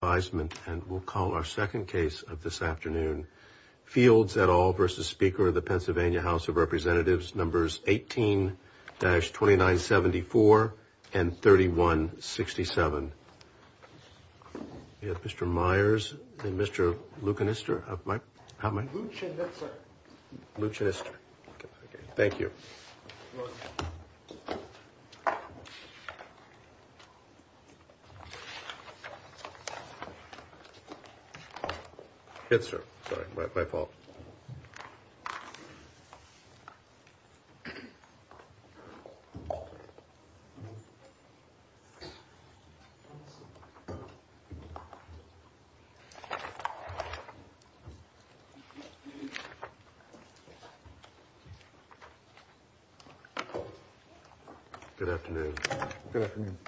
Numbers 18-2974 and 3167, Mr. Myers and Mr. Luchinister, how am I, Luchinister, okay, thank you. Good morning. Good afternoon. Good afternoon.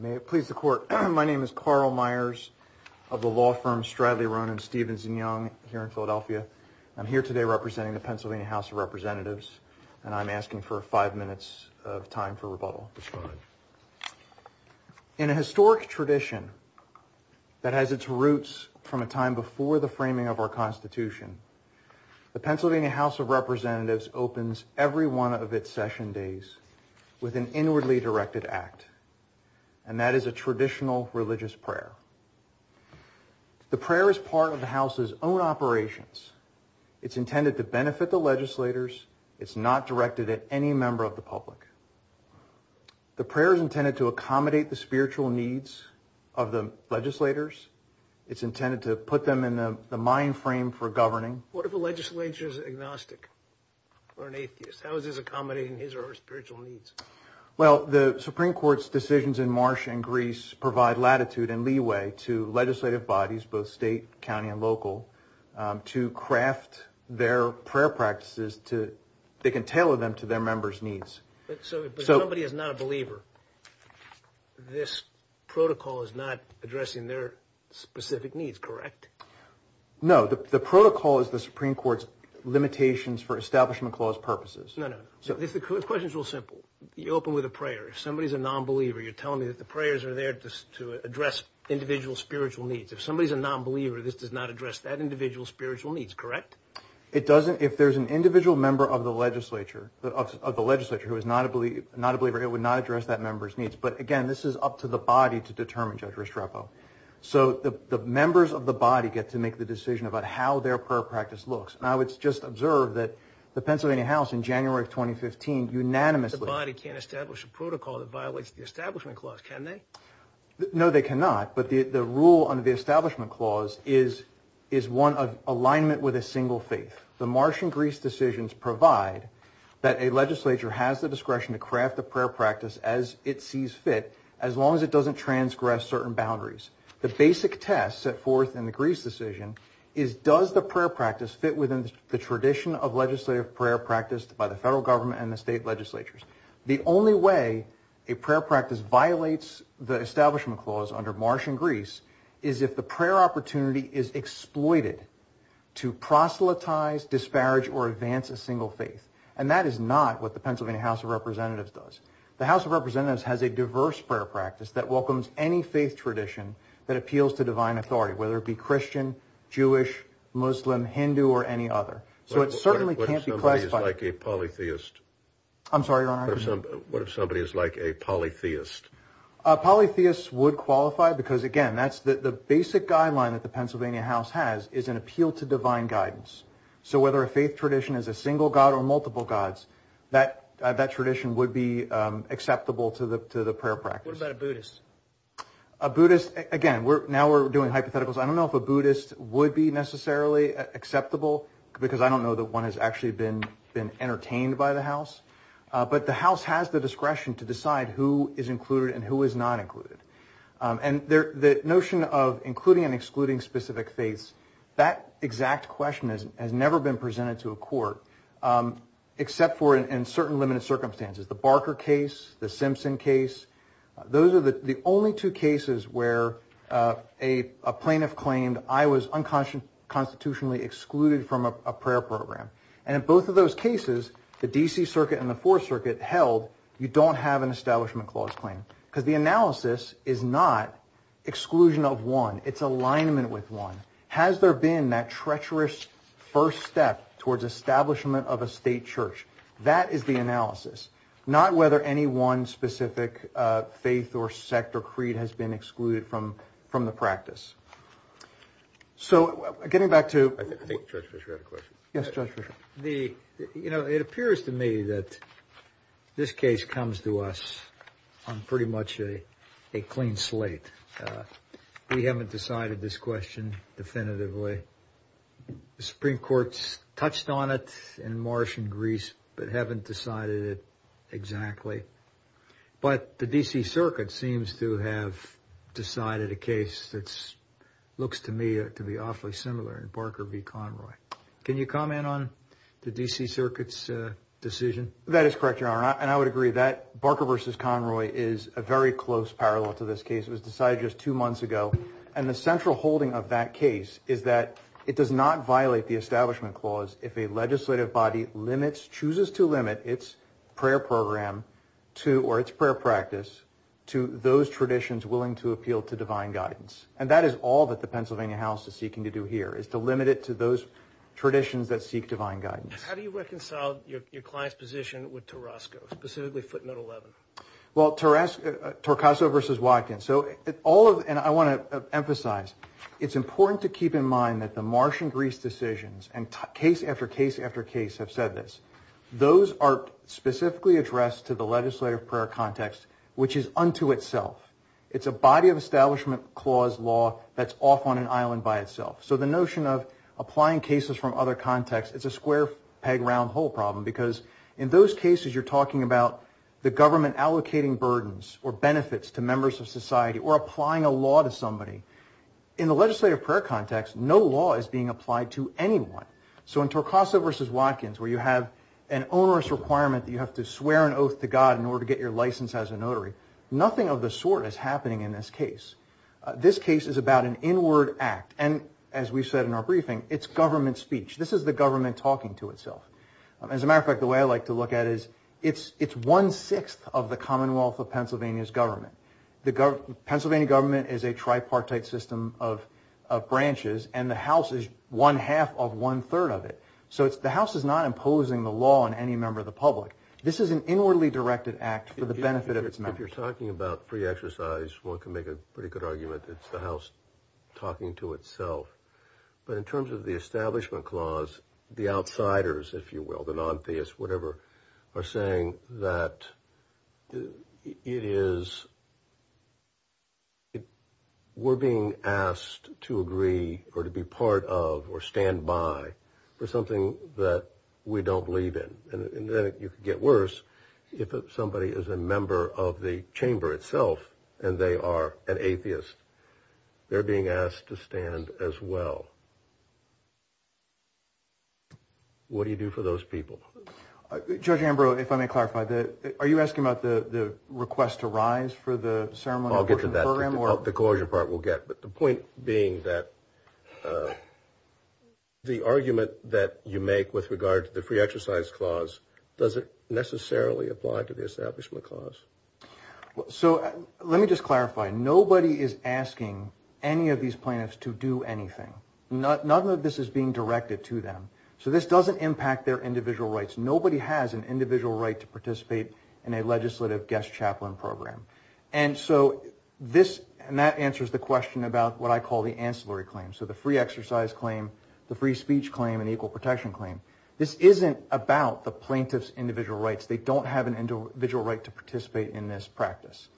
May it please the court, my name is Carl Myers of the law firm Stradley, Ronan, Stevens & Young here in Philadelphia. I'm here today representing the Pennsylvania House of Representatives, and I'm asking for five minutes of time for rebuttal. In a historic tradition that has its roots from a time before the framing of our Constitution, the Pennsylvania House of Representatives opens every one of its session days with an inwardly directed act, and that is a traditional religious prayer. The prayer is part of the House's own operations. It's intended to benefit the legislators. It's not directed at any member of the public. The prayer is intended to accommodate the spiritual needs of the legislators. It's intended to put them in the mind frame for governing. What if a legislator is agnostic or an atheist? How is this accommodating his or her spiritual needs? Well, the Supreme Court's decisions in Marsh and Greece provide latitude and leeway to legislative bodies, both state, county, and local, to craft their prayer practices to, they can tailor them to their members' needs. But somebody is not a believer. This protocol is not addressing their specific needs, correct? No, the protocol is the Supreme Court's limitations for establishment clause purposes. The question's real simple. You open with a prayer. If somebody's a nonbeliever, you're telling me that the prayers are there to address individual spiritual needs. If somebody's a nonbeliever, this does not address that individual's spiritual needs, correct? If there's an individual member of the legislature who is not a believer, it would not address that member's needs. But again, this is up to the body to determine, Judge Restrepo. So the members of the body get to make the decision about how their prayer practice looks. Now, it's just observed that the Pennsylvania House, in January of 2015, unanimously... The body can't establish a protocol that violates the establishment clause, can they? No, they cannot. But the rule under the establishment clause is one of alignment with a single faith. The Marsh and Greece decisions provide that a legislature has the discretion to craft a prayer practice as it sees fit, as long as it doesn't transgress certain boundaries. The basic test set forth in the Greece decision is, does the prayer practice fit within the tradition of legislative prayer practiced by the federal government and the state legislatures? The only way a prayer practice violates the establishment clause under Marsh and Greece is if the prayer opportunity is exploited to proselytize, disparage, or advance a single faith. And that is not what the Pennsylvania House of Representatives does. The House of Representatives has a diverse prayer practice that welcomes any faith tradition that appeals to divine authority, whether it be Christian, Jewish, Muslim, Hindu, or any other. So it certainly can't be classified... What if somebody is like a polytheist? I'm sorry, Your Honor? What if somebody is like a polytheist? A polytheist would qualify because, again, the basic guideline that the Pennsylvania House has is an appeal to divine guidance. So whether a faith tradition is a single god or multiple gods, that tradition would be acceptable to the prayer practice. What about a Buddhist? A Buddhist, again, now we're doing hypotheticals. I don't know if a Buddhist would be necessarily acceptable because I don't know that one has actually been entertained by the House. But the House has the discretion to decide who is included and who is not included. And the notion of including and excluding specific faiths, that exact question has never been presented to a court, except for in certain limited circumstances. The Barker case, the Simpson case, those are the only two cases where a plaintiff claimed I was unconstitutionally excluded from a prayer program. And in both of those cases, the D.C. Circuit and the Fourth Circuit held you don't have an Establishment Clause claim. Because the analysis is not exclusion of one. It's alignment with one. Has there been that treacherous first step towards establishment of a state church? That is the analysis, not whether any one specific faith or sect or creed has been excluded from the practice. So getting back to... I think Judge Fischer had a question. Yes, Judge Fischer. You know, it appears to me that this case comes to us on pretty much a clean slate. We haven't decided this question definitively. The Supreme Court's touched on it in March in Greece, but haven't decided it exactly. But the D.C. Circuit seems to have decided a case that looks to me to be awfully similar in Barker v. Conroy. Can you comment on the D.C. Circuit's decision? That is correct, Your Honor. And I would agree that Barker v. Conroy is a very close parallel to this case. It was decided just two months ago. And the central holding of that case is that it does not violate the Establishment Clause if a legislative body chooses to limit its prayer program or its prayer practice to those traditions willing to appeal to divine guidance. And that is all that the Pennsylvania House is seeking to do here, is to limit it to those traditions that seek divine guidance. How do you reconcile your client's position with Tarasco, specifically footnote 11? Well, Tarasco...Torcaso v. Watkins. So all of...and I want to emphasize, it's important to keep in mind that the March in Greece decisions and case after case after case have said this. Those are specifically addressed to the legislative prayer context, which is unto itself. It's a body of Establishment Clause law that's off on an island by itself. So the notion of applying cases from other contexts, it's a square peg round hole problem because in those cases you're talking about the government allocating burdens or benefits to members of society or applying a law to somebody. In the legislative prayer context, no law is being applied to anyone. So in Torcaso v. Watkins, where you have an onerous requirement that you have to swear an oath to God in order to get your license as a notary, nothing of the sort is happening in this case. This case is about an inward act, and as we said in our briefing, it's government speech. This is the government talking to itself. As a matter of fact, the way I like to look at it is it's one-sixth of the Commonwealth of Pennsylvania's government. The Pennsylvania government is a tripartite system of branches, and the House is one-half of one-third of it. So the House is not imposing the law on any member of the public. This is an inwardly directed act for the benefit of its members. If you're talking about free exercise, one can make a pretty good argument that it's the House talking to itself. But in terms of the Establishment Clause, the outsiders, if you will, the non-theists, whatever, are saying that we're being asked to agree or to be part of or stand by for something that we don't believe in. And then you can get worse if somebody is a member of the chamber itself and they are an atheist. They're being asked to stand as well. What do you do for those people? Judge Ambrose, if I may clarify, are you asking about the request to rise for the ceremony? I'll get to that. The coercion part we'll get. But the point being that the argument that you make with regard to the free exercise clause, does it necessarily apply to the Establishment Clause? So let me just clarify. Nobody is asking any of these plaintiffs to do anything. None of this is being directed to them. So this doesn't impact their individual rights. Nobody has an individual right to participate in a legislative guest chaplain program. And so this answers the question about what I call the ancillary claims. So the free exercise claim, the free speech claim, and the equal protection claim. This isn't about the plaintiff's individual rights. They don't have an individual right to participate in this practice.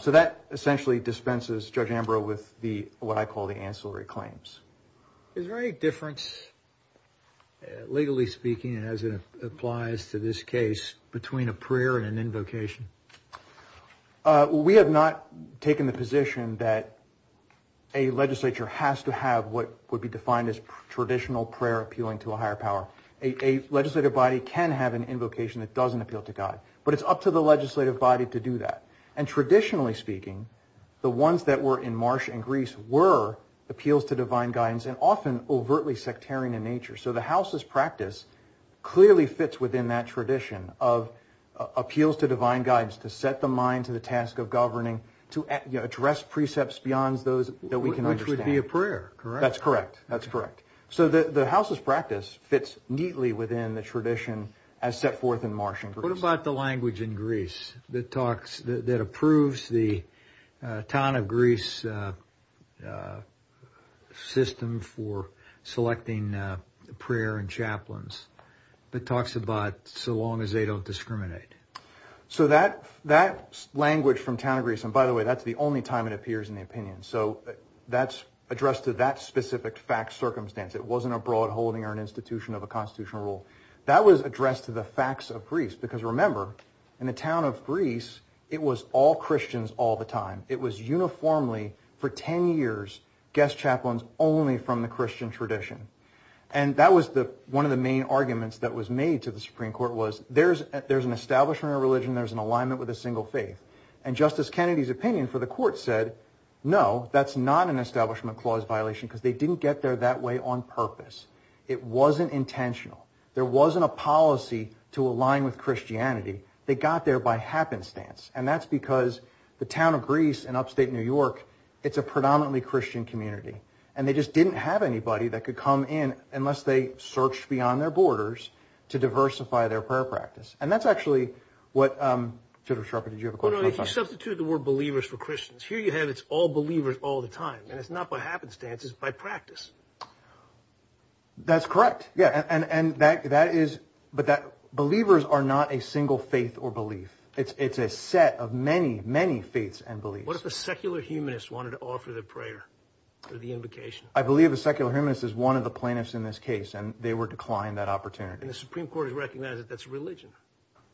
So that essentially dispenses Judge Ambrose with what I call the ancillary claims. Is there any difference, legally speaking as it applies to this case, between a prayer and an invocation? We have not taken the position that a legislature has to have what would be defined as traditional prayer appealing to a higher power. A legislative body can have an invocation that doesn't appeal to God. But it's up to the legislative body to do that. And traditionally speaking, the ones that were in Marsh and Greece were appeals to divine guidance and often overtly sectarian in nature. So the House's practice clearly fits within that tradition of appeals to divine guidance to set the mind to the task of governing, to address precepts beyond those that we can understand. Which would be a prayer, correct? That's correct. That's correct. So the House's practice fits neatly within the tradition as set forth in Marsh and Greece. What about the language in Greece that approves the town of Greece system for selecting prayer and chaplains? It talks about so long as they don't discriminate. So that language from town of Greece, and by the way, that's the only time it appears in the opinion. So that's addressed to that specific fact circumstance. It wasn't a broad holding or an institution of a constitutional rule. That was addressed to the facts of Greece. Because remember, in the town of Greece, it was all Christians all the time. It was uniformly for 10 years guest chaplains only from the Christian tradition. And that was one of the main arguments that was made to the Supreme Court was there's an establishment of religion, there's an alignment with a single faith. And Justice Kennedy's opinion for the court said, no, that's not an establishment clause violation because they didn't get there that way on purpose. It wasn't intentional. There wasn't a policy to align with Christianity. They got there by happenstance. And that's because the town of Greece in upstate New York, it's a predominantly Christian community. And they just didn't have anybody that could come in unless they searched beyond their borders to diversify their prayer practice. And that's actually what, Judge Sharper, did you have a question? If you substitute the word believers for Christians, here you have it's all believers all the time. And it's not by happenstance, it's by practice. That's correct. But believers are not a single faith or belief. It's a set of many, many faiths and beliefs. What if a secular humanist wanted to offer the prayer or the invocation? I believe a secular humanist is one of the plaintiffs in this case, and they were declined that opportunity. And the Supreme Court has recognized that that's religion.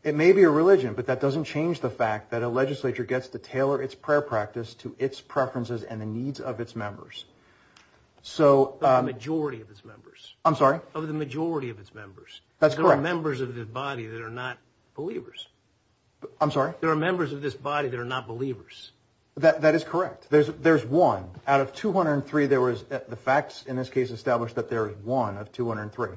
It may be a religion, but that doesn't change the fact that a legislature gets to tailor its prayer practice to its preferences and the needs of its members. The majority of its members. I'm sorry? Of the majority of its members. That's correct. There are members of this body that are not believers. I'm sorry? There are members of this body that are not believers. That is correct. There's one. Out of 203, the facts in this case establish that there is one of 203.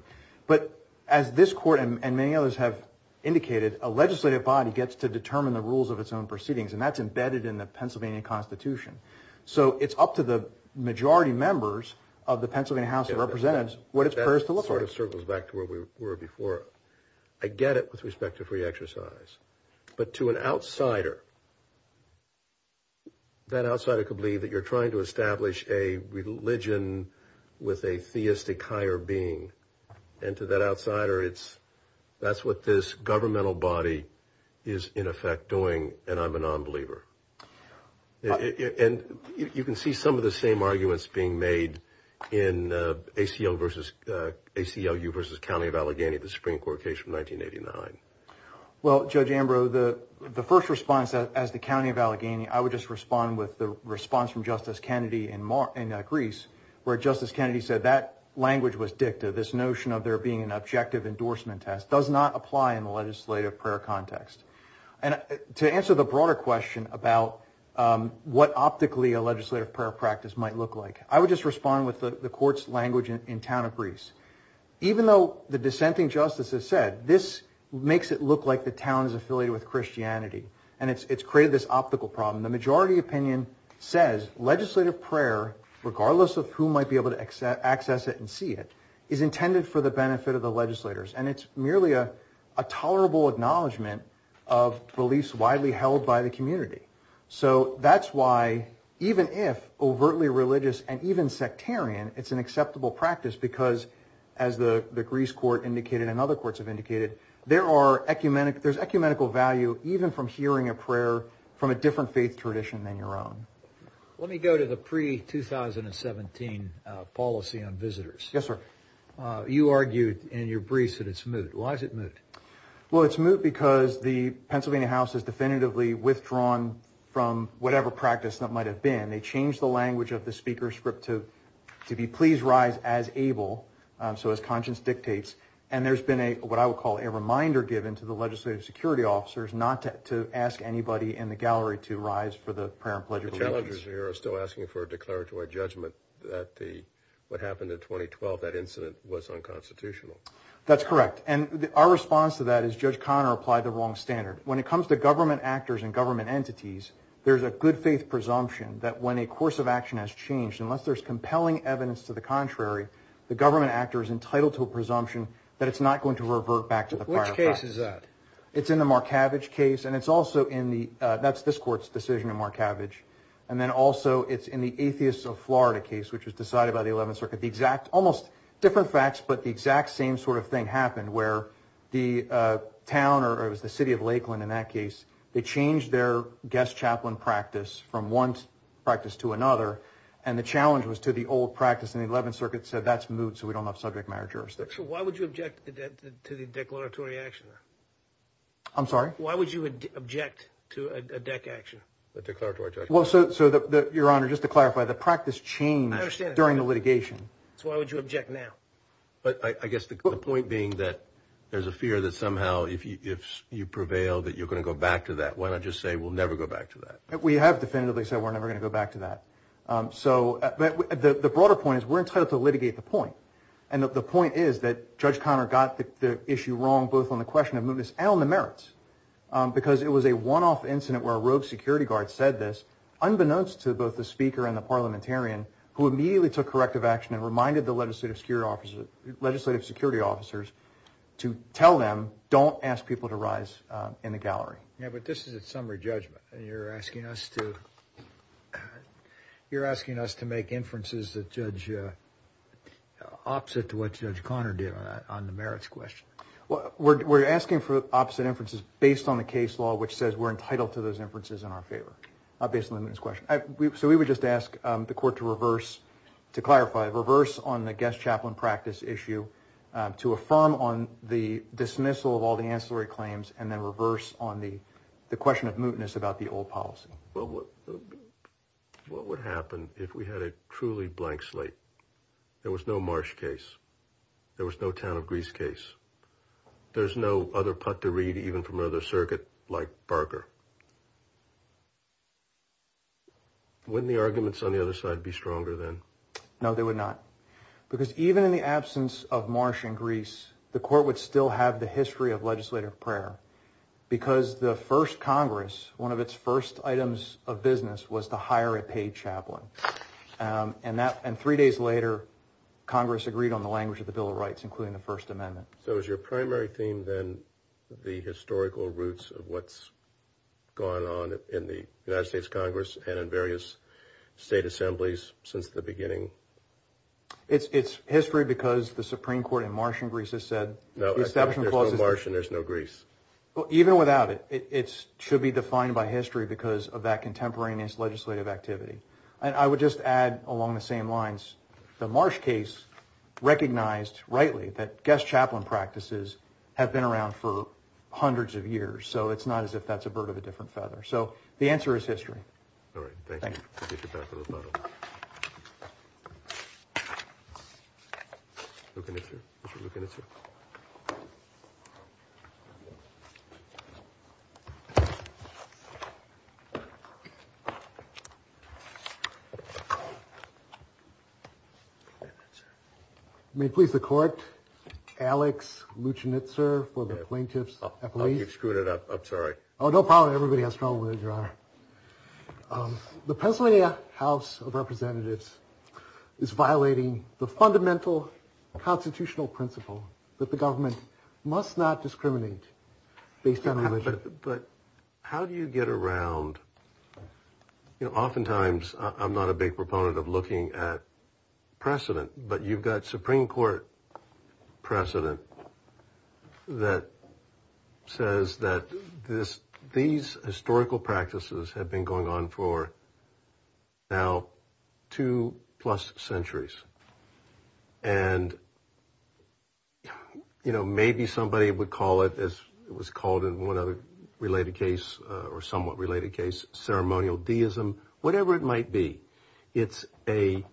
But as this court and many others have indicated, a legislative body gets to determine the rules of its own proceedings, and that's embedded in the Pennsylvania Constitution. So it's up to the majority members of the Pennsylvania House of Representatives what its prayer is to look like. That sort of circles back to where we were before. I get it with respect to free exercise. But to an outsider, that outsider could believe that you're trying to establish a religion with a theistic higher being. And to that outsider, that's what this governmental body is in effect doing, and I'm a nonbeliever. And you can see some of the same arguments being made in ACLU versus County of Allegheny, the Supreme Court case from 1989. Well, Judge Ambrose, the first response as the County of Allegheny, I would just respond with the response from Justice Kennedy in Greece, where Justice Kennedy said that language was dicta, this notion of there being an objective endorsement test, does not apply in the legislative prayer context. And to answer the broader question about what optically a legislative prayer practice might look like, I would just respond with the court's language in town of Greece. Even though the dissenting justice has said, this makes it look like the town is affiliated with Christianity, and it's created this optical problem. The majority opinion says legislative prayer, regardless of who might be able to access it and see it, is intended for the benefit of the legislators. And it's merely a tolerable acknowledgement of beliefs widely held by the community. So that's why, even if overtly religious and even sectarian, it's an acceptable practice, because as the Greece court indicated and other courts have indicated, there's ecumenical value even from hearing a prayer from a different faith tradition than your own. Let me go to the pre-2017 policy on visitors. Yes, sir. You argued in your briefs that it's moot. Why is it moot? Well, it's moot because the Pennsylvania House has definitively withdrawn from whatever practice that might have been. They changed the language of the speaker script to be please rise as able, so as conscience dictates. And there's been what I would call a reminder given to the legislative security officers not to ask anybody in the gallery to rise for the prayer and pledge of allegiance. The challengers here are still asking for a declaratory judgment that what happened in 2012, that incident, was unconstitutional. That's correct. And our response to that is Judge Conner applied the wrong standard. When it comes to government actors and government entities, there's a good faith presumption that when a course of action has changed, unless there's compelling evidence to the contrary, the government actor is entitled to a presumption that it's not going to revert back to the prior practice. Which case is that? It's in the Markavich case, and it's also in the, that's this court's decision in Markavich. And then also it's in the Atheists of Florida case, which was decided by the 11th Circuit. The exact, almost different facts, but the exact same sort of thing happened, where the town, or it was the city of Lakeland in that case, they changed their guest chaplain practice from one practice to another, and the challenge was to the old practice, and the 11th Circuit said, that's moot, so we don't have subject matter jurisdiction. So why would you object to the declaratory action? I'm sorry? Why would you object to a DEC action? A declaratory judgment. Well, so, Your Honor, just to clarify, the practice changed during the litigation. So why would you object now? I guess the point being that there's a fear that somehow if you prevail, that you're going to go back to that. Why not just say, we'll never go back to that? We have definitively said we're never going to go back to that. So the broader point is we're entitled to litigate the point, and the point is that Judge Conner got the issue wrong, both on the question of mootness and on the merits, because it was a one-off incident where a rogue security guard said this, unbeknownst to both the speaker and the parliamentarian, who immediately took corrective action and reminded the legislative security officers to tell them, don't ask people to rise in the gallery. Yeah, but this is a summary judgment, and you're asking us to make inferences that are opposite to what Judge Conner did on the merits question. We're asking for opposite inferences based on the case law, which says we're entitled to those inferences in our favor, not based on the mootness question. So we would just ask the Court to reverse, to clarify, reverse on the guest chaplain practice issue, to affirm on the dismissal of all the ancillary claims, and then reverse on the question of mootness about the old policy. Well, what would happen if we had a truly blank slate? There was no Marsh case. There was no Town of Greece case. There's no other putt to read, even from another circuit, like Barker. Wouldn't the arguments on the other side be stronger then? No, they would not, because even in the absence of Marsh and Greece, the Court would still have the history of legislative prayer, because the first Congress, one of its first items of business, was to hire a paid chaplain. And three days later, Congress agreed on the language of the Bill of Rights, including the First Amendment. So is your primary theme then the historical roots of what's gone on in the United States Congress and in various state assemblies since the beginning? It's history because the Supreme Court in Marsh and Greece has said the Establishment Clause is... No, there's no Marsh and there's no Greece. Even without it, it should be defined by history because of that contemporaneous legislative activity. And I would just add along the same lines, the Marsh case recognized rightly that guest chaplain practices have been around for hundreds of years, so it's not as if that's a bird of a different feather. So the answer is history. All right, thank you. We'll get you back to the panel. Mr. Luchinitzer. May it please the Court, Alex Luchinitzer for the Plaintiffs' Appeal. You've screwed it up. I'm sorry. Oh, no problem. Everybody has trouble with it, Your Honor. The Pennsylvania House of Representatives is violating the fundamental constitutional principle that the government must not discriminate based on religion. But how do you get around... Oftentimes, I'm not a big proponent of looking at precedent, but you've got Supreme Court precedent that says that these historical practices have been going on for now two-plus centuries. And, you know, maybe somebody would call it, as it was called in one other related case or somewhat related case, ceremonial deism, whatever it might be. It's a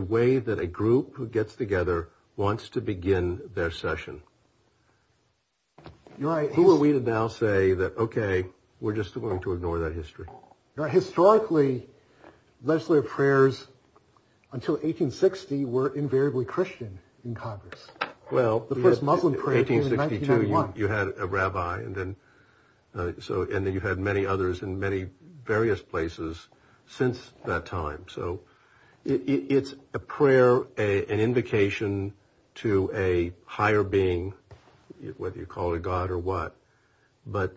way that a group who gets together wants to begin their session. Who are we to now say that, okay, we're just going to ignore that history? Historically, legislative prayers until 1860 were invariably Christian in Congress. Well, 1862, you had a rabbi, and then you had many others in many various places since that time. So it's a prayer, an invocation to a higher being, whether you call it God or what. But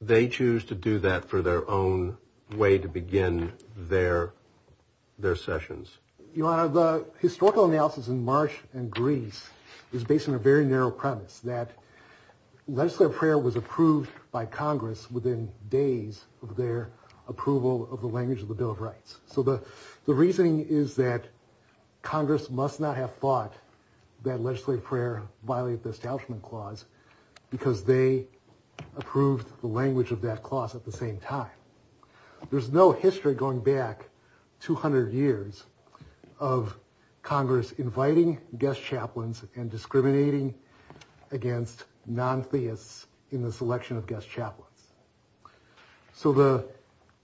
they choose to do that for their own way to begin their sessions. Your Honor, the historical analysis in March and Greece is based on a very narrow premise, that legislative prayer was approved by Congress within days of their approval of the language of the Bill of Rights. So the reasoning is that Congress must not have thought that legislative prayer violated the Establishment Clause because they approved the language of that clause at the same time. There's no history going back 200 years of Congress inviting guest chaplains and discriminating against non-theists in the selection of guest chaplains. So the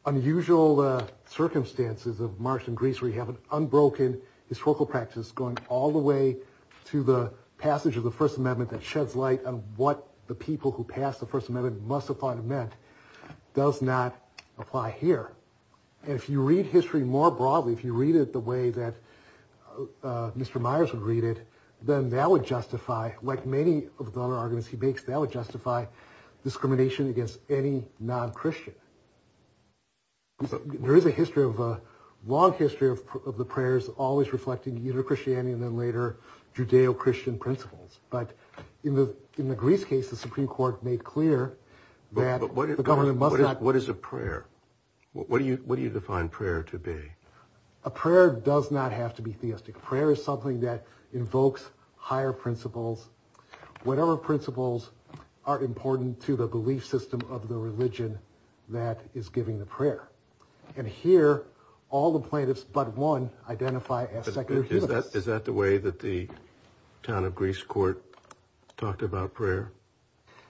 unusual circumstances of March and Greece where you have an unbroken historical practice going all the way to the passage of the First Amendment that sheds light on what the people who passed the First Amendment must have thought it meant does not apply here. And if you read history more broadly, if you read it the way that Mr. Myers would read it, then that would justify, like many of the other arguments he makes, that would justify discrimination against any non-Christian. There is a long history of the prayers always reflecting either Christianity and then later Judeo-Christian principles. But in the Greece case, the Supreme Court made clear that the government must not... But what is a prayer? What do you define prayer to be? A prayer does not have to be theistic. Prayer is something that invokes higher principles. Whatever principles are important to the belief system of the religion that is giving the prayer. And here, all the plaintiffs but one identify as secular humanists. Is that the way that the town of Greece court talked about prayer?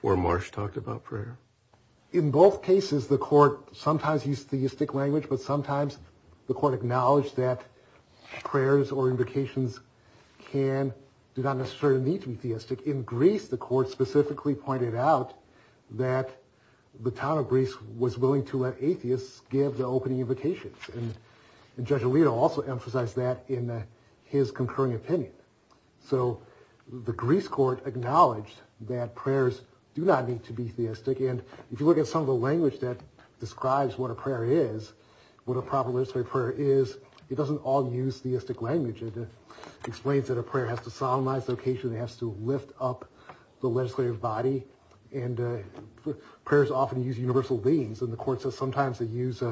Or Marsh talked about prayer? In both cases, the court sometimes used theistic language, but sometimes the court acknowledged that prayers or invocations do not necessarily need to be theistic. In Greece, the court specifically pointed out that the town of Greece was willing to let atheists give the opening invocations. And Judge Alito also emphasized that in his concurring opinion. So the Greece court acknowledged that prayers do not need to be theistic. And if you look at some of the language that describes what a prayer is, what a proper legislative prayer is, it doesn't all use theistic language. It explains that a prayer has to solemnize the occasion. It has to lift up the legislative body. And prayers often use universal themes. And the court says sometimes they use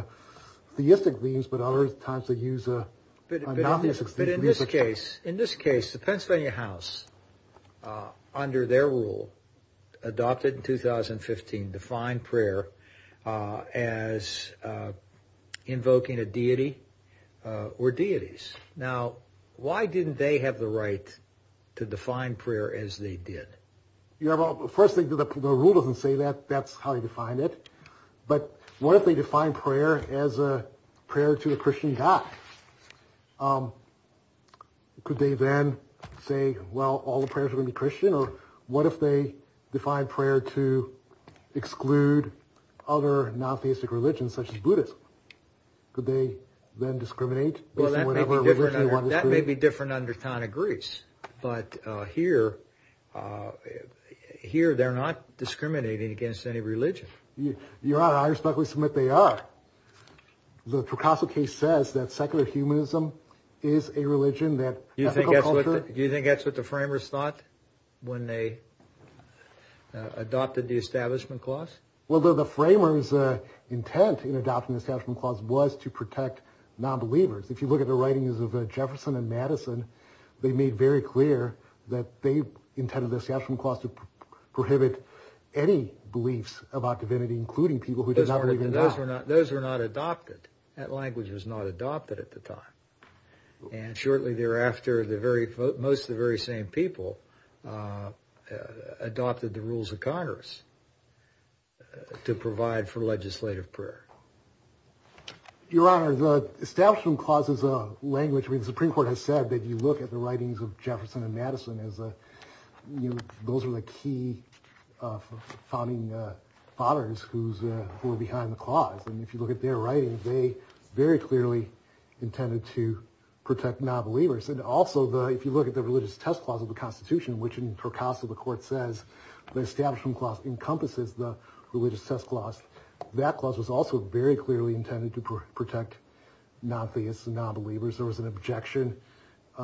theistic themes, but other times they use... But in this case, the Pennsylvania House, under their rule, adopted in 2015 defined prayer as invoking a deity or deities. Now, why didn't they have the right to define prayer as they did? Well, first thing, the rule doesn't say that. That's how you define it. But what if they define prayer as a prayer to a Christian god? Could they then say, well, all the prayers are going to be Christian? Or what if they define prayer to exclude other non-theistic religions, such as Buddhism? Could they then discriminate? Well, that may be different under the town of Greece. But here they're not discriminating against any religion. Your Honor, I respectfully submit they are. The Procosso case says that secular humanism is a religion that... Do you think that's what the framers thought when they adopted the Establishment Clause? Well, the framers' intent in adopting the Establishment Clause was to protect non-believers. If you look at the writings of Jefferson and Madison, they made very clear that they intended the Establishment Clause to prohibit any beliefs about divinity, including people who did not believe in God. Those were not adopted. That language was not adopted at the time. And shortly thereafter, most of the very same people adopted the rules of Congress to provide for legislative prayer. Your Honor, the Establishment Clause is a language where the Supreme Court has said that if you look at the writings of Jefferson and Madison, those are the key founding fathers who were behind the clause. And if you look at their writings, they very clearly intended to protect non-believers. And also, if you look at the Religious Test Clause of the Constitution, which in Procosso the Court says the Establishment Clause encompasses the Religious Test Clause, that clause was also very clearly intended to protect non-theists and non-believers. There was an objection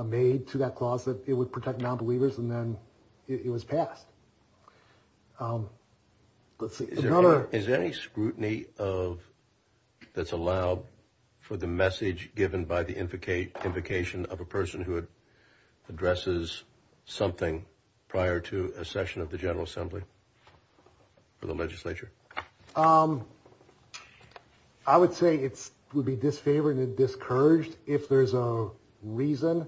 made to that clause that it would protect non-believers, and then it was passed. Is there any scrutiny that's allowed for the message given by the invocation of a person who addresses something prior to a session of the General Assembly for the legislature? I would say it would be disfavored and discouraged if there's a reason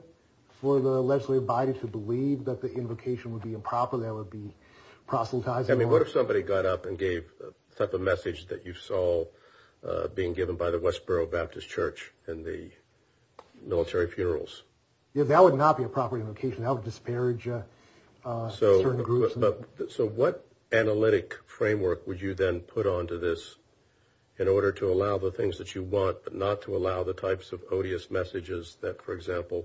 for the legislative body to believe that the invocation would be improper, that it would be proselytizing. I mean, what if somebody got up and gave the type of message that you saw being given by the Westboro Baptist Church in the military funerals? That would not be a proper invocation. That would disparage certain groups. So what analytic framework would you then put onto this in order to allow the things that you want, but not to allow the types of odious messages that, for example,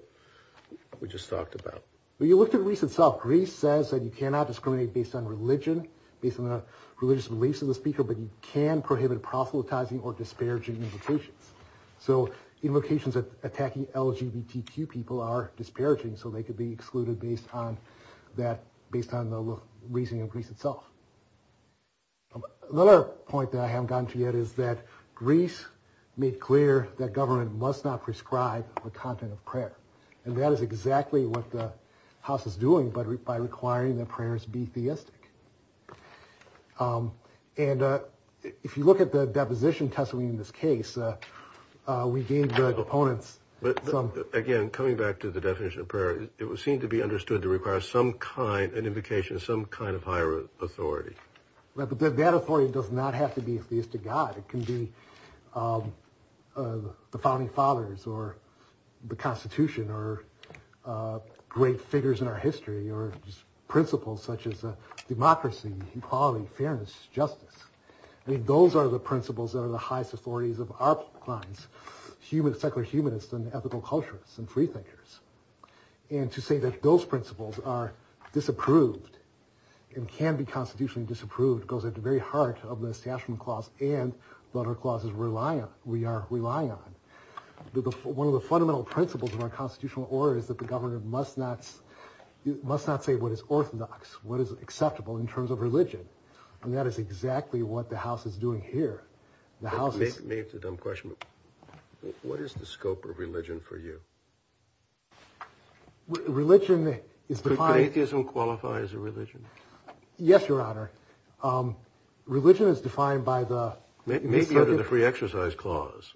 we just talked about? Well, you looked at Greece itself. Greece says that you cannot discriminate based on religion, based on the religious beliefs of the speaker, but you can prohibit proselytizing or disparaging invocations. So invocations attacking LGBTQ people are disparaging, so they could be excluded based on the reasoning of Greece itself. Another point that I haven't gotten to yet is that Greece made clear that government must not prescribe the content of prayer, and that is exactly what the House is doing by requiring that prayers be theistic. And if you look at the deposition testimony in this case, we gave the opponents some... Again, coming back to the definition of prayer, it would seem to be understood to require some kind, an invocation of some kind of higher authority. That authority does not have to be theistic God. It can be the founding fathers or the Constitution or great figures in our history or principles such as democracy, equality, fairness, justice. I mean, those are the principles that are the highest authorities of our clients, secular humanists and ethical culturists and free thinkers. And to say that those principles are disapproved and can be constitutionally disapproved goes at the very heart of the statement clause and the other clauses we are relying on. One of the fundamental principles of our constitutional order is that the governor must not say what is orthodox, what is acceptable in terms of religion, and that is exactly what the House is doing here. Maybe it's a dumb question, but what is the scope of religion for you? Religion is defined... Could atheism qualify as a religion? Yes, Your Honor. Religion is defined by the... Maybe under the free exercise clause.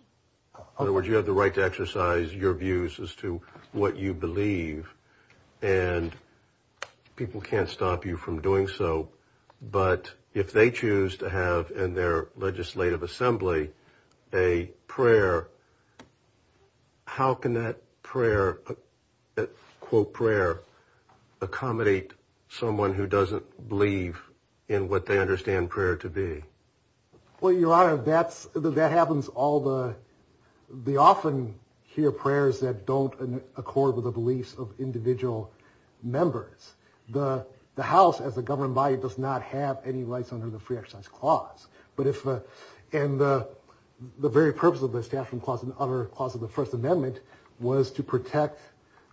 In other words, you have the right to exercise your views as to what you believe, and people can't stop you from doing so. But if they choose to have in their legislative assembly a prayer, how can that prayer accommodate someone who doesn't believe in what they understand prayer to be? Well, Your Honor, that happens all the... They often hear prayers that don't accord with the beliefs of individual members. The House, as a governed body, does not have any rights under the free exercise clause. But if... And the very purpose of the statement clause and other clauses of the First Amendment was to protect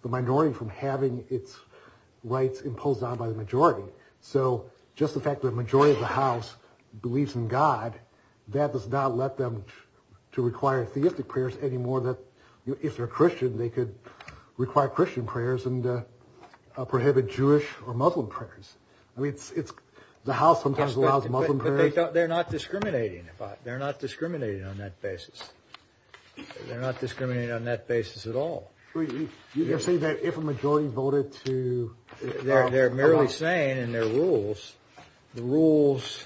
the minority from having its rights imposed on by the majority. So just the fact that the majority of the House believes in God, that does not let them to require theistic prayers any more than... If they're Christian, they could require Christian prayers and prohibit Jewish or Muslim prayers. I mean, it's... The House sometimes allows Muslim prayers... But they're not discriminating. They're not discriminating on that basis. They're not discriminating on that basis at all. You're saying that if a majority voted to... They're merely saying in their rules, the rules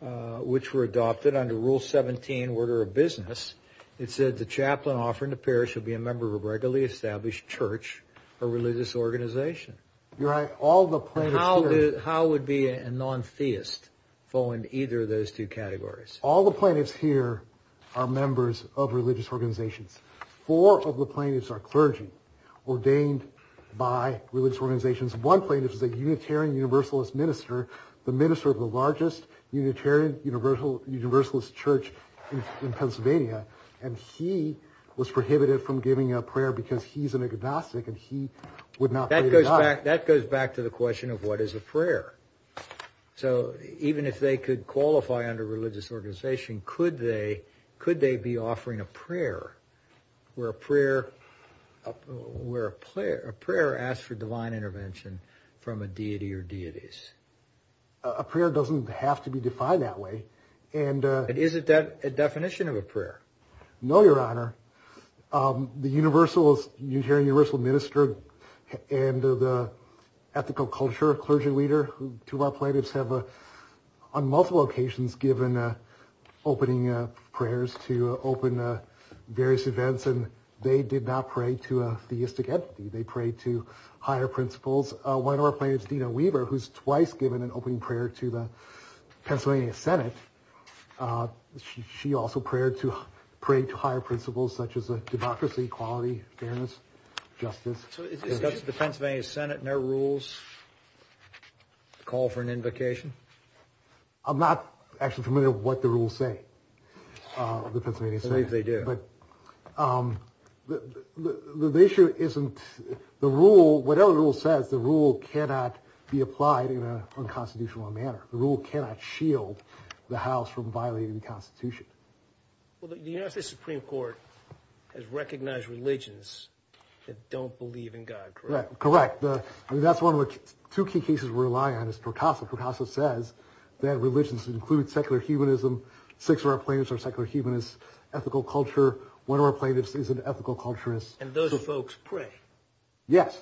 which were adopted under Rule 17, Order of Business, it said the chaplain offered in the parish would be a member of a regularly established church or religious organization. You're right. All the plaintiffs here... How would be a non-theist fall into either of those two categories? All the plaintiffs here are members of religious organizations. Four of the plaintiffs are clergy, ordained by religious organizations. One plaintiff is a Unitarian Universalist minister, the minister of the largest Unitarian Universalist church in Pennsylvania. And he was prohibited from giving a prayer because he's an agnostic and he would not... That goes back to the question of what is a prayer. So even if they could qualify under religious organization, could they be offering a prayer where a prayer asks for divine intervention from a deity or deities? A prayer doesn't have to be defined that way. And is it a definition of a prayer? No, Your Honor. The Unitarian Universalist minister and the ethical culture clergy leader, two of our plaintiffs have on multiple occasions given opening prayers to open various events, and they did not pray to a theistic entity. They prayed to higher principles. One of our plaintiffs, Dina Weaver, who's twice given an opening prayer to the Pennsylvania Senate, she also prayed to higher principles such as democracy, equality, fairness, justice. So does the Pennsylvania Senate and their rules call for an invocation? I'm not actually familiar with what the rules say, the Pennsylvania Senate. I believe they do. But the issue isn't... The rule, whatever rule says, the rule cannot be applied in an unconstitutional manner. The rule cannot shield the House from violating the Constitution. Well, the United States Supreme Court has recognized religions that don't believe in God, correct? Correct. I mean, that's one of the two key cases we rely on is Torcaso. Torcaso says that religions include secular humanism. Six of our plaintiffs are secular humanists. Ethical culture, one of our plaintiffs is an ethical culturist. And those folks pray. Yes,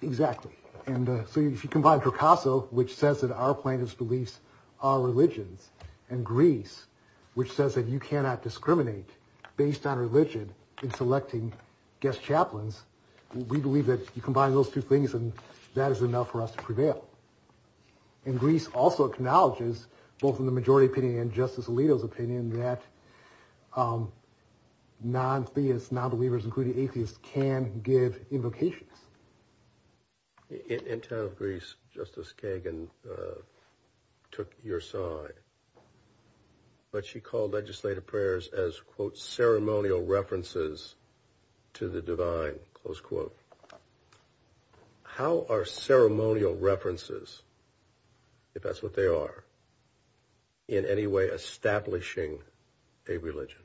exactly. And so if you combine Torcaso, which says that our plaintiffs' beliefs are religions, and Greece, which says that you cannot discriminate based on religion in selecting guest chaplains, we believe that you combine those two things and that is enough for us to prevail. And Greece also acknowledges, both in the majority opinion and Justice Alito's opinion, that non-theists, non-believers, including atheists, can give invocations. In town of Greece, Justice Kagan took your side, but she called legislative prayers as, quote, ceremonial references to the divine, close quote. How are ceremonial references, if that's what they are, in any way establishing a religion?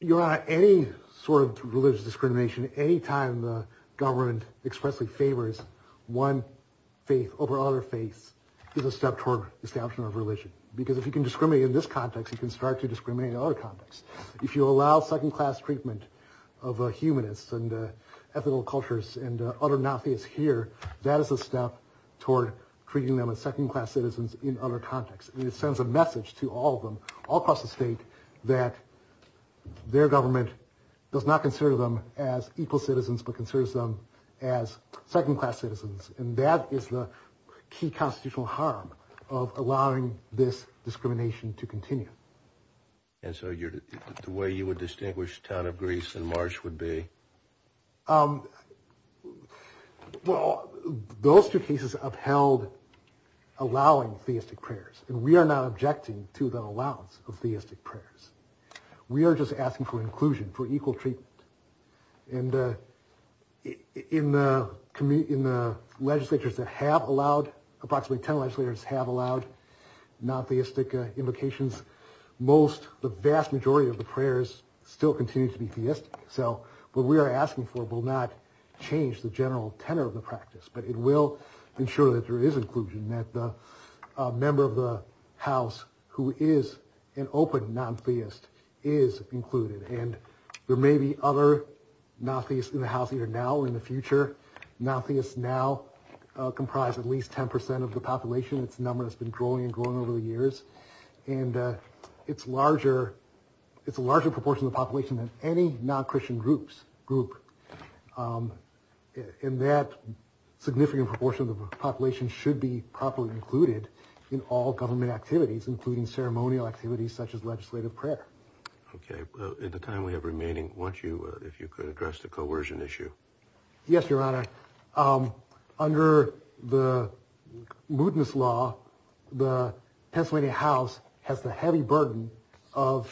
Your Honor, any sort of religious discrimination, any time the government expressly favors one faith over another faith, is a step toward the establishment of religion. Because if you can discriminate in this context, you can start to discriminate in other contexts. If you allow second-class treatment of humanists and ethical cultures and other non-theists here, that is a step toward treating them as second-class citizens in other contexts. It sends a message to all of them, all across the state, that their government does not consider them as equal citizens, but considers them as second-class citizens. And that is the key constitutional harm of allowing this discrimination to continue. And so the way you would distinguish town of Greece and March would be? Well, those two cases upheld allowing theistic prayers, and we are not objecting to the allowance of theistic prayers. We are just asking for inclusion, for equal treatment. And in the legislatures that have allowed, approximately 10 legislatures have allowed non-theistic invocations, most, the vast majority of the prayers still continue to be theistic. So what we are asking for will not change the general tenor of the practice, but it will ensure that there is inclusion, that the member of the house who is an open non-theist is included. And there may be other non-theists in the house either now or in the future. Non-theists now comprise at least 10% of the population. It's a number that's been growing and growing over the years. And it's a larger proportion of the population than any non-Christian group. And that significant proportion of the population should be properly included in all government activities, including ceremonial activities such as legislative prayer. Okay. In the time we have remaining, if you could address the coercion issue. Yes, Your Honor. Under the mootness law, the Pennsylvania House has the heavy burden of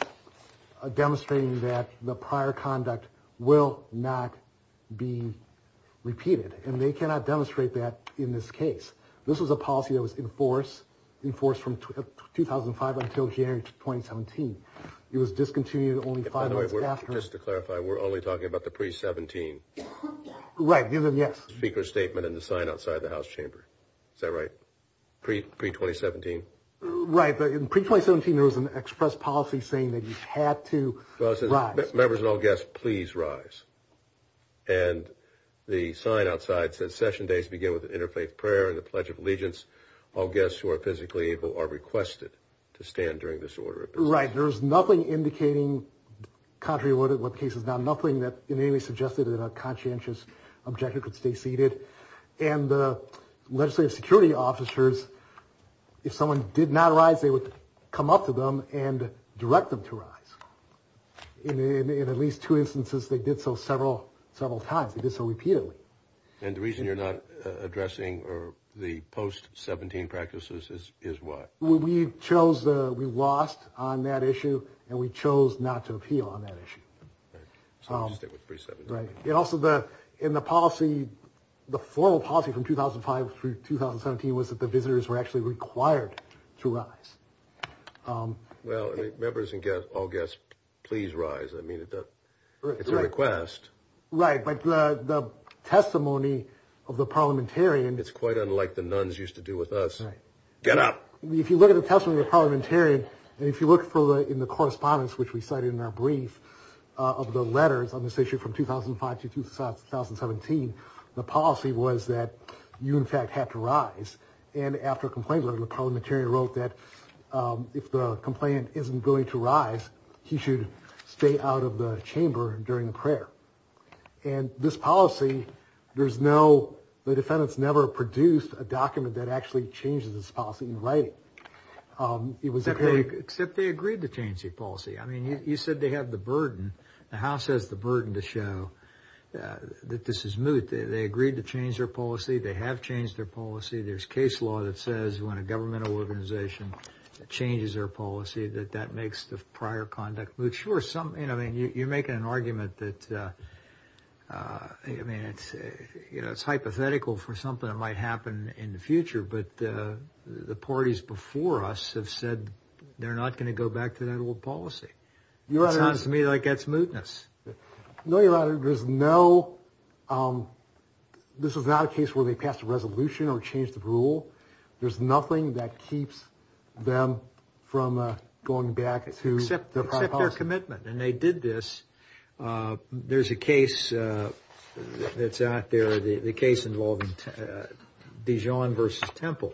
demonstrating that the prior conduct will not be repeated. And they cannot demonstrate that in this case. This was a policy that was enforced from 2005 until January 2017. It was discontinued only five months after. Just to clarify, we're only talking about the pre-17. Right. Yes. Speaker's statement and the sign outside the House chamber. Is that right? Pre-2017? Right. But in pre-2017, there was an express policy saying that you had to rise. Members and all guests, please rise. And the sign outside says session days begin with an interfaith prayer and the Pledge of Allegiance. All guests who are physically able are requested to stand during this order. Right. There's nothing indicating, contrary to what the case is now, nothing that in any way suggested that a conscientious objector could stay seated. And the legislative security officers, if someone did not rise, they would come up to them and direct them to rise. In at least two instances, they did so several times. They did so repeatedly. And the reason you're not addressing the post-17 practices is why? We chose, we lost on that issue and we chose not to appeal on that issue. So we'll just stick with pre-17. Right. And also the, in the policy, the formal policy from 2005 through 2017 was that the visitors were actually required to rise. Well, members and guests, all guests, please rise. I mean, it's a request. Right. But the testimony of the parliamentarian. It's quite unlike the nuns used to do with us. Right. Get up. If you look at the testimony, the parliamentarian, and if you look for the in the correspondence, which we cited in our brief of the letters on this issue from 2005 to 2017, the policy was that you, in fact, had to rise. And after a complaint, the parliamentarian wrote that if the complainant isn't going to rise, he should stay out of the chamber during the prayer. And this policy, there's no, the defendants never produced a document that actually changes this policy in writing. Except they agreed to change the policy. I mean, you said they have the burden. The House has the burden to show that this is moot. They agreed to change their policy. They have changed their policy. There's case law that says when a governmental organization changes their policy, that that makes the prior conduct moot. I'm sure some, I mean, you're making an argument that, I mean, it's, you know, it's hypothetical for something that might happen in the future. But the parties before us have said they're not going to go back to that old policy. It sounds to me like that's mootness. No, Your Honor, there's no, this is not a case where they passed a resolution or changed the rule. There's nothing that keeps them from going back to their prior policy. There's no commitment. And they did this. There's a case that's out there, the case involving Dijon v. Temple.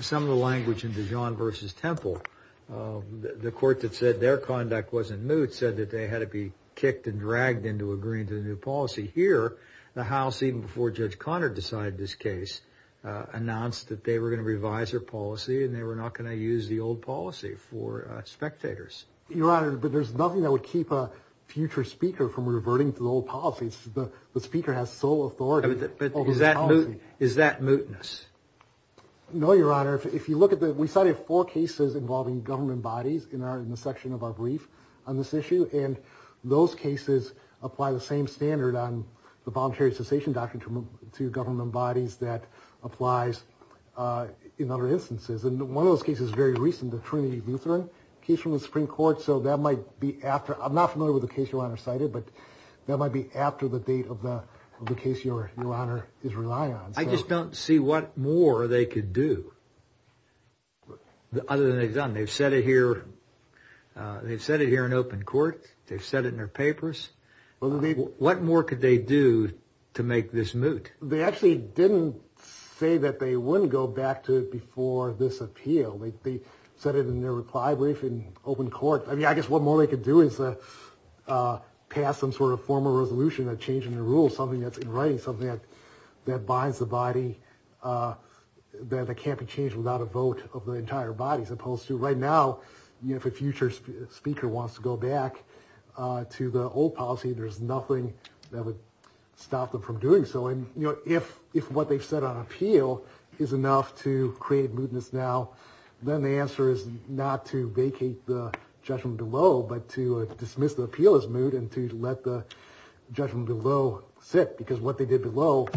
Some of the language in Dijon v. Temple, the court that said their conduct wasn't moot, said that they had to be kicked and dragged into agreeing to the new policy. Here, the House, even before Judge Conard decided this case, announced that they were going to revise their policy and they were not going to use the old policy for spectators. Your Honor, there's nothing that would keep a future speaker from reverting to the old policy. The speaker has sole authority over the policy. But is that mootness? No, Your Honor, if you look at the, we cited four cases involving government bodies in our, in the section of our brief on this issue, and those cases apply the same standard on the voluntary cessation doctrine to government bodies that applies in other instances. And one of those cases is very recent, the Trinity Lutheran case from the Supreme Court. So that might be after, I'm not familiar with the case Your Honor cited, but that might be after the date of the case Your Honor is relying on. I just don't see what more they could do other than they've done. They've set it here, they've set it here in open court. They've set it in their papers. What more could they do to make this moot? They actually didn't say that they wouldn't go back to it before this appeal. They said it in their reply brief in open court. I mean, I guess what more they could do is pass some sort of formal resolution, a change in the rules, something that's in writing, something that binds the body that can't be changed without a vote of the entire body, as opposed to right now, if a future speaker wants to go back to the old policy, there's nothing that would stop them from doing so. And if what they've said on appeal is enough to create mootness now, then the answer is not to vacate the judgment below, but to dismiss the appeal as moot and to let the judgment below sit, because what they did below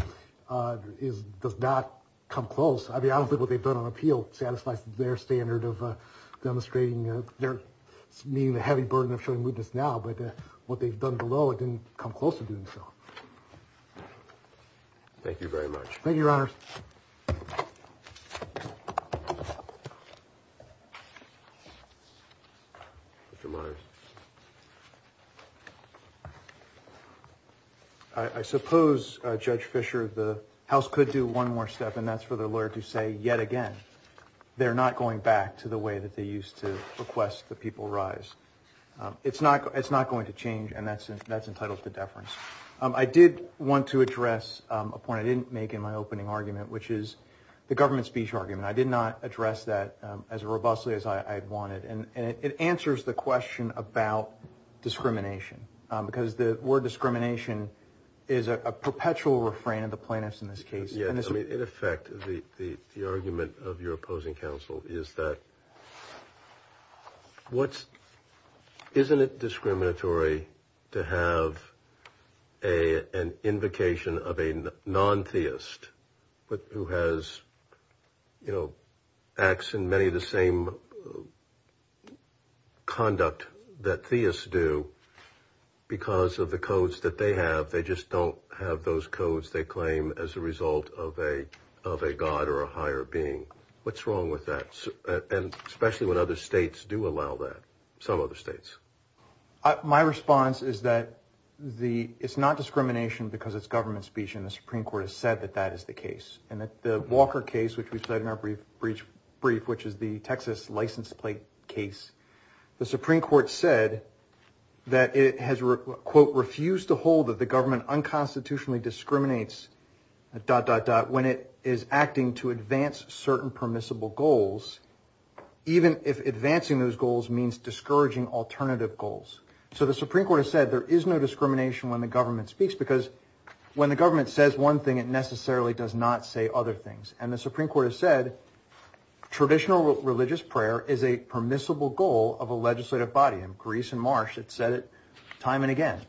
does not come close. I mean, I don't think what they've done on appeal satisfies their standard of demonstrating, meaning the heavy burden of showing mootness now, but what they've done below didn't come close to doing so. Thank you very much. Thank you, Your Honors. Mr. Myers. I suppose, Judge Fisher, the House could do one more step, and that's for the lawyer to say yet again they're not going back to the way that they used to request the people rise. It's not going to change, and that's entitled to deference. I did want to address a point I didn't make in my opening argument, which is the government speech argument. I did not address that as robustly as I had wanted, and it answers the question about discrimination, because the word discrimination is a perpetual refrain of the plaintiffs in this case. In effect, the argument of your opposing counsel is that isn't it discriminatory to have an invocation of a non-theist who acts in many of the same conduct that theists do because of the codes that they have. They just don't have those codes they claim as a result of a god or a higher being. What's wrong with that, especially when other states do allow that, some other states? My response is that it's not discrimination because it's government speech, and the Supreme Court has said that that is the case. In the Walker case, which we've said in our brief, which is the Texas license plate case, the Supreme Court said that it has, quote, refused to hold that the government unconstitutionally discriminates, dot, dot, dot, when it is acting to advance certain permissible goals, even if advancing those goals means discouraging alternative goals. So the Supreme Court has said there is no discrimination when the government speaks, because when the government says one thing, it necessarily does not say other things. And the Supreme Court has said traditional religious prayer is a permissible goal of a legislative body. In Greece and Marsh, it said it time and again.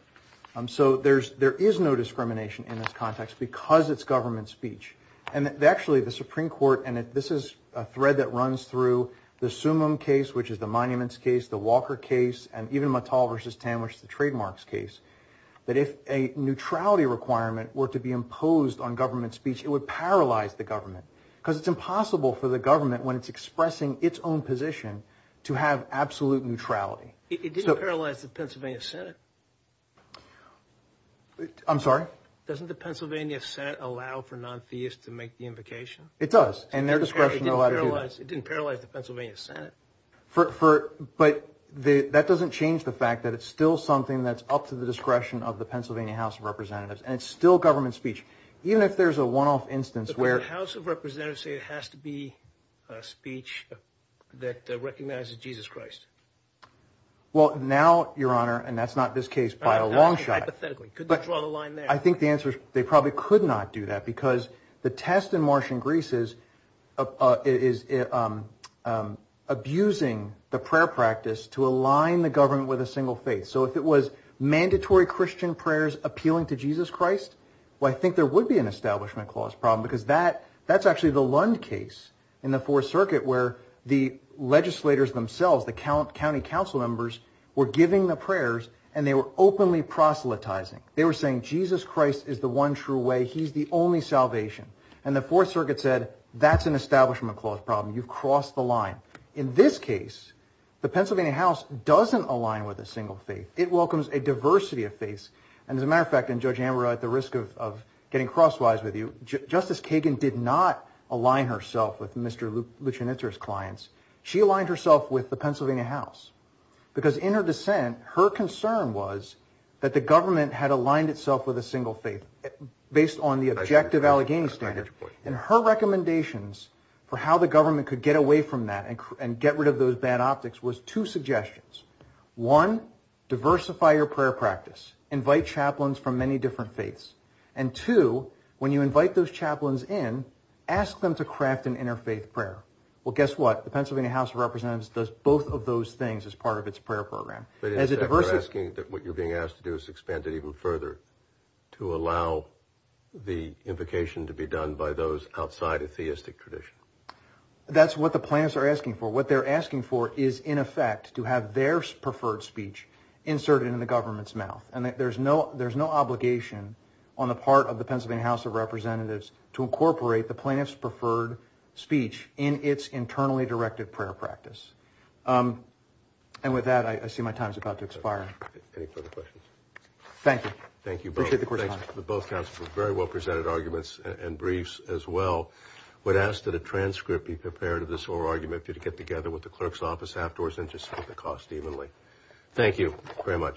So there is no discrimination in this context because it's government speech. And actually, the Supreme Court, and this is a thread that runs through the Sumum case, which is the Monuments case, the Walker case, and even Mattel v. Tam, which is the Trademarks case, that if a neutrality requirement were to be imposed on government speech, it would paralyze the government, because it's impossible for the government, when it's expressing its own position, to have absolute neutrality. It didn't paralyze the Pennsylvania Senate. I'm sorry? Doesn't the Pennsylvania Senate allow for non-theists to make the invocation? It does, and their discretion allowed to do that. It didn't paralyze the Pennsylvania Senate. But that doesn't change the fact that it's still something that's up to the discretion of the Pennsylvania House of Representatives, and it's still government speech. Even if there's a one-off instance where— But the House of Representatives say it has to be a speech that recognizes Jesus Christ. Well, now, Your Honor, and that's not this case by a long shot— Hypothetically. Could they draw the line there? I think the answer is they probably could not do that, because the test in Martian Greece is abusing the prayer practice to align the government with a single faith. So if it was mandatory Christian prayers appealing to Jesus Christ, well, I think there would be an Establishment Clause problem, because that's actually the Lund case in the Fourth Circuit, where the legislators themselves, the county council members, were giving the prayers, and they were openly proselytizing. They were saying, Jesus Christ is the one true way. He's the only salvation. And the Fourth Circuit said, that's an Establishment Clause problem. You've crossed the line. In this case, the Pennsylvania House doesn't align with a single faith. It welcomes a diversity of faiths. And as a matter of fact, and Judge Ambrose, at the risk of getting crosswise with you, Justice Kagan did not align herself with Mr. Luchinitzer's clients. She aligned herself with the Pennsylvania House, because in her dissent, her concern was that the government had aligned itself with a single faith, based on the objective Allegheny standard. And her recommendations for how the government could get away from that and get rid of those bad optics was two suggestions. One, diversify your prayer practice. Invite chaplains from many different faiths. And two, when you invite those chaplains in, ask them to craft an interfaith prayer. Well, guess what? The Pennsylvania House of Representatives does both of those things as part of its prayer program. But instead, you're asking that what you're being asked to do is expand it even further to allow the invocation to be done by those outside of theistic tradition. That's what the plaintiffs are asking for. What they're asking for is, in effect, to have their preferred speech inserted in the government's mouth. And there's no obligation on the part of the Pennsylvania House of Representatives to incorporate the plaintiff's preferred speech in its internally directed prayer practice. And with that, I see my time is about to expire. Any further questions? Thank you. Thank you both. Appreciate the correspondence. Both counsels have very well presented arguments and briefs as well. I would ask that a transcript be prepared of this whole argument for you to get together with the clerk's office afterwards and just split the cost evenly. Thank you. Very much.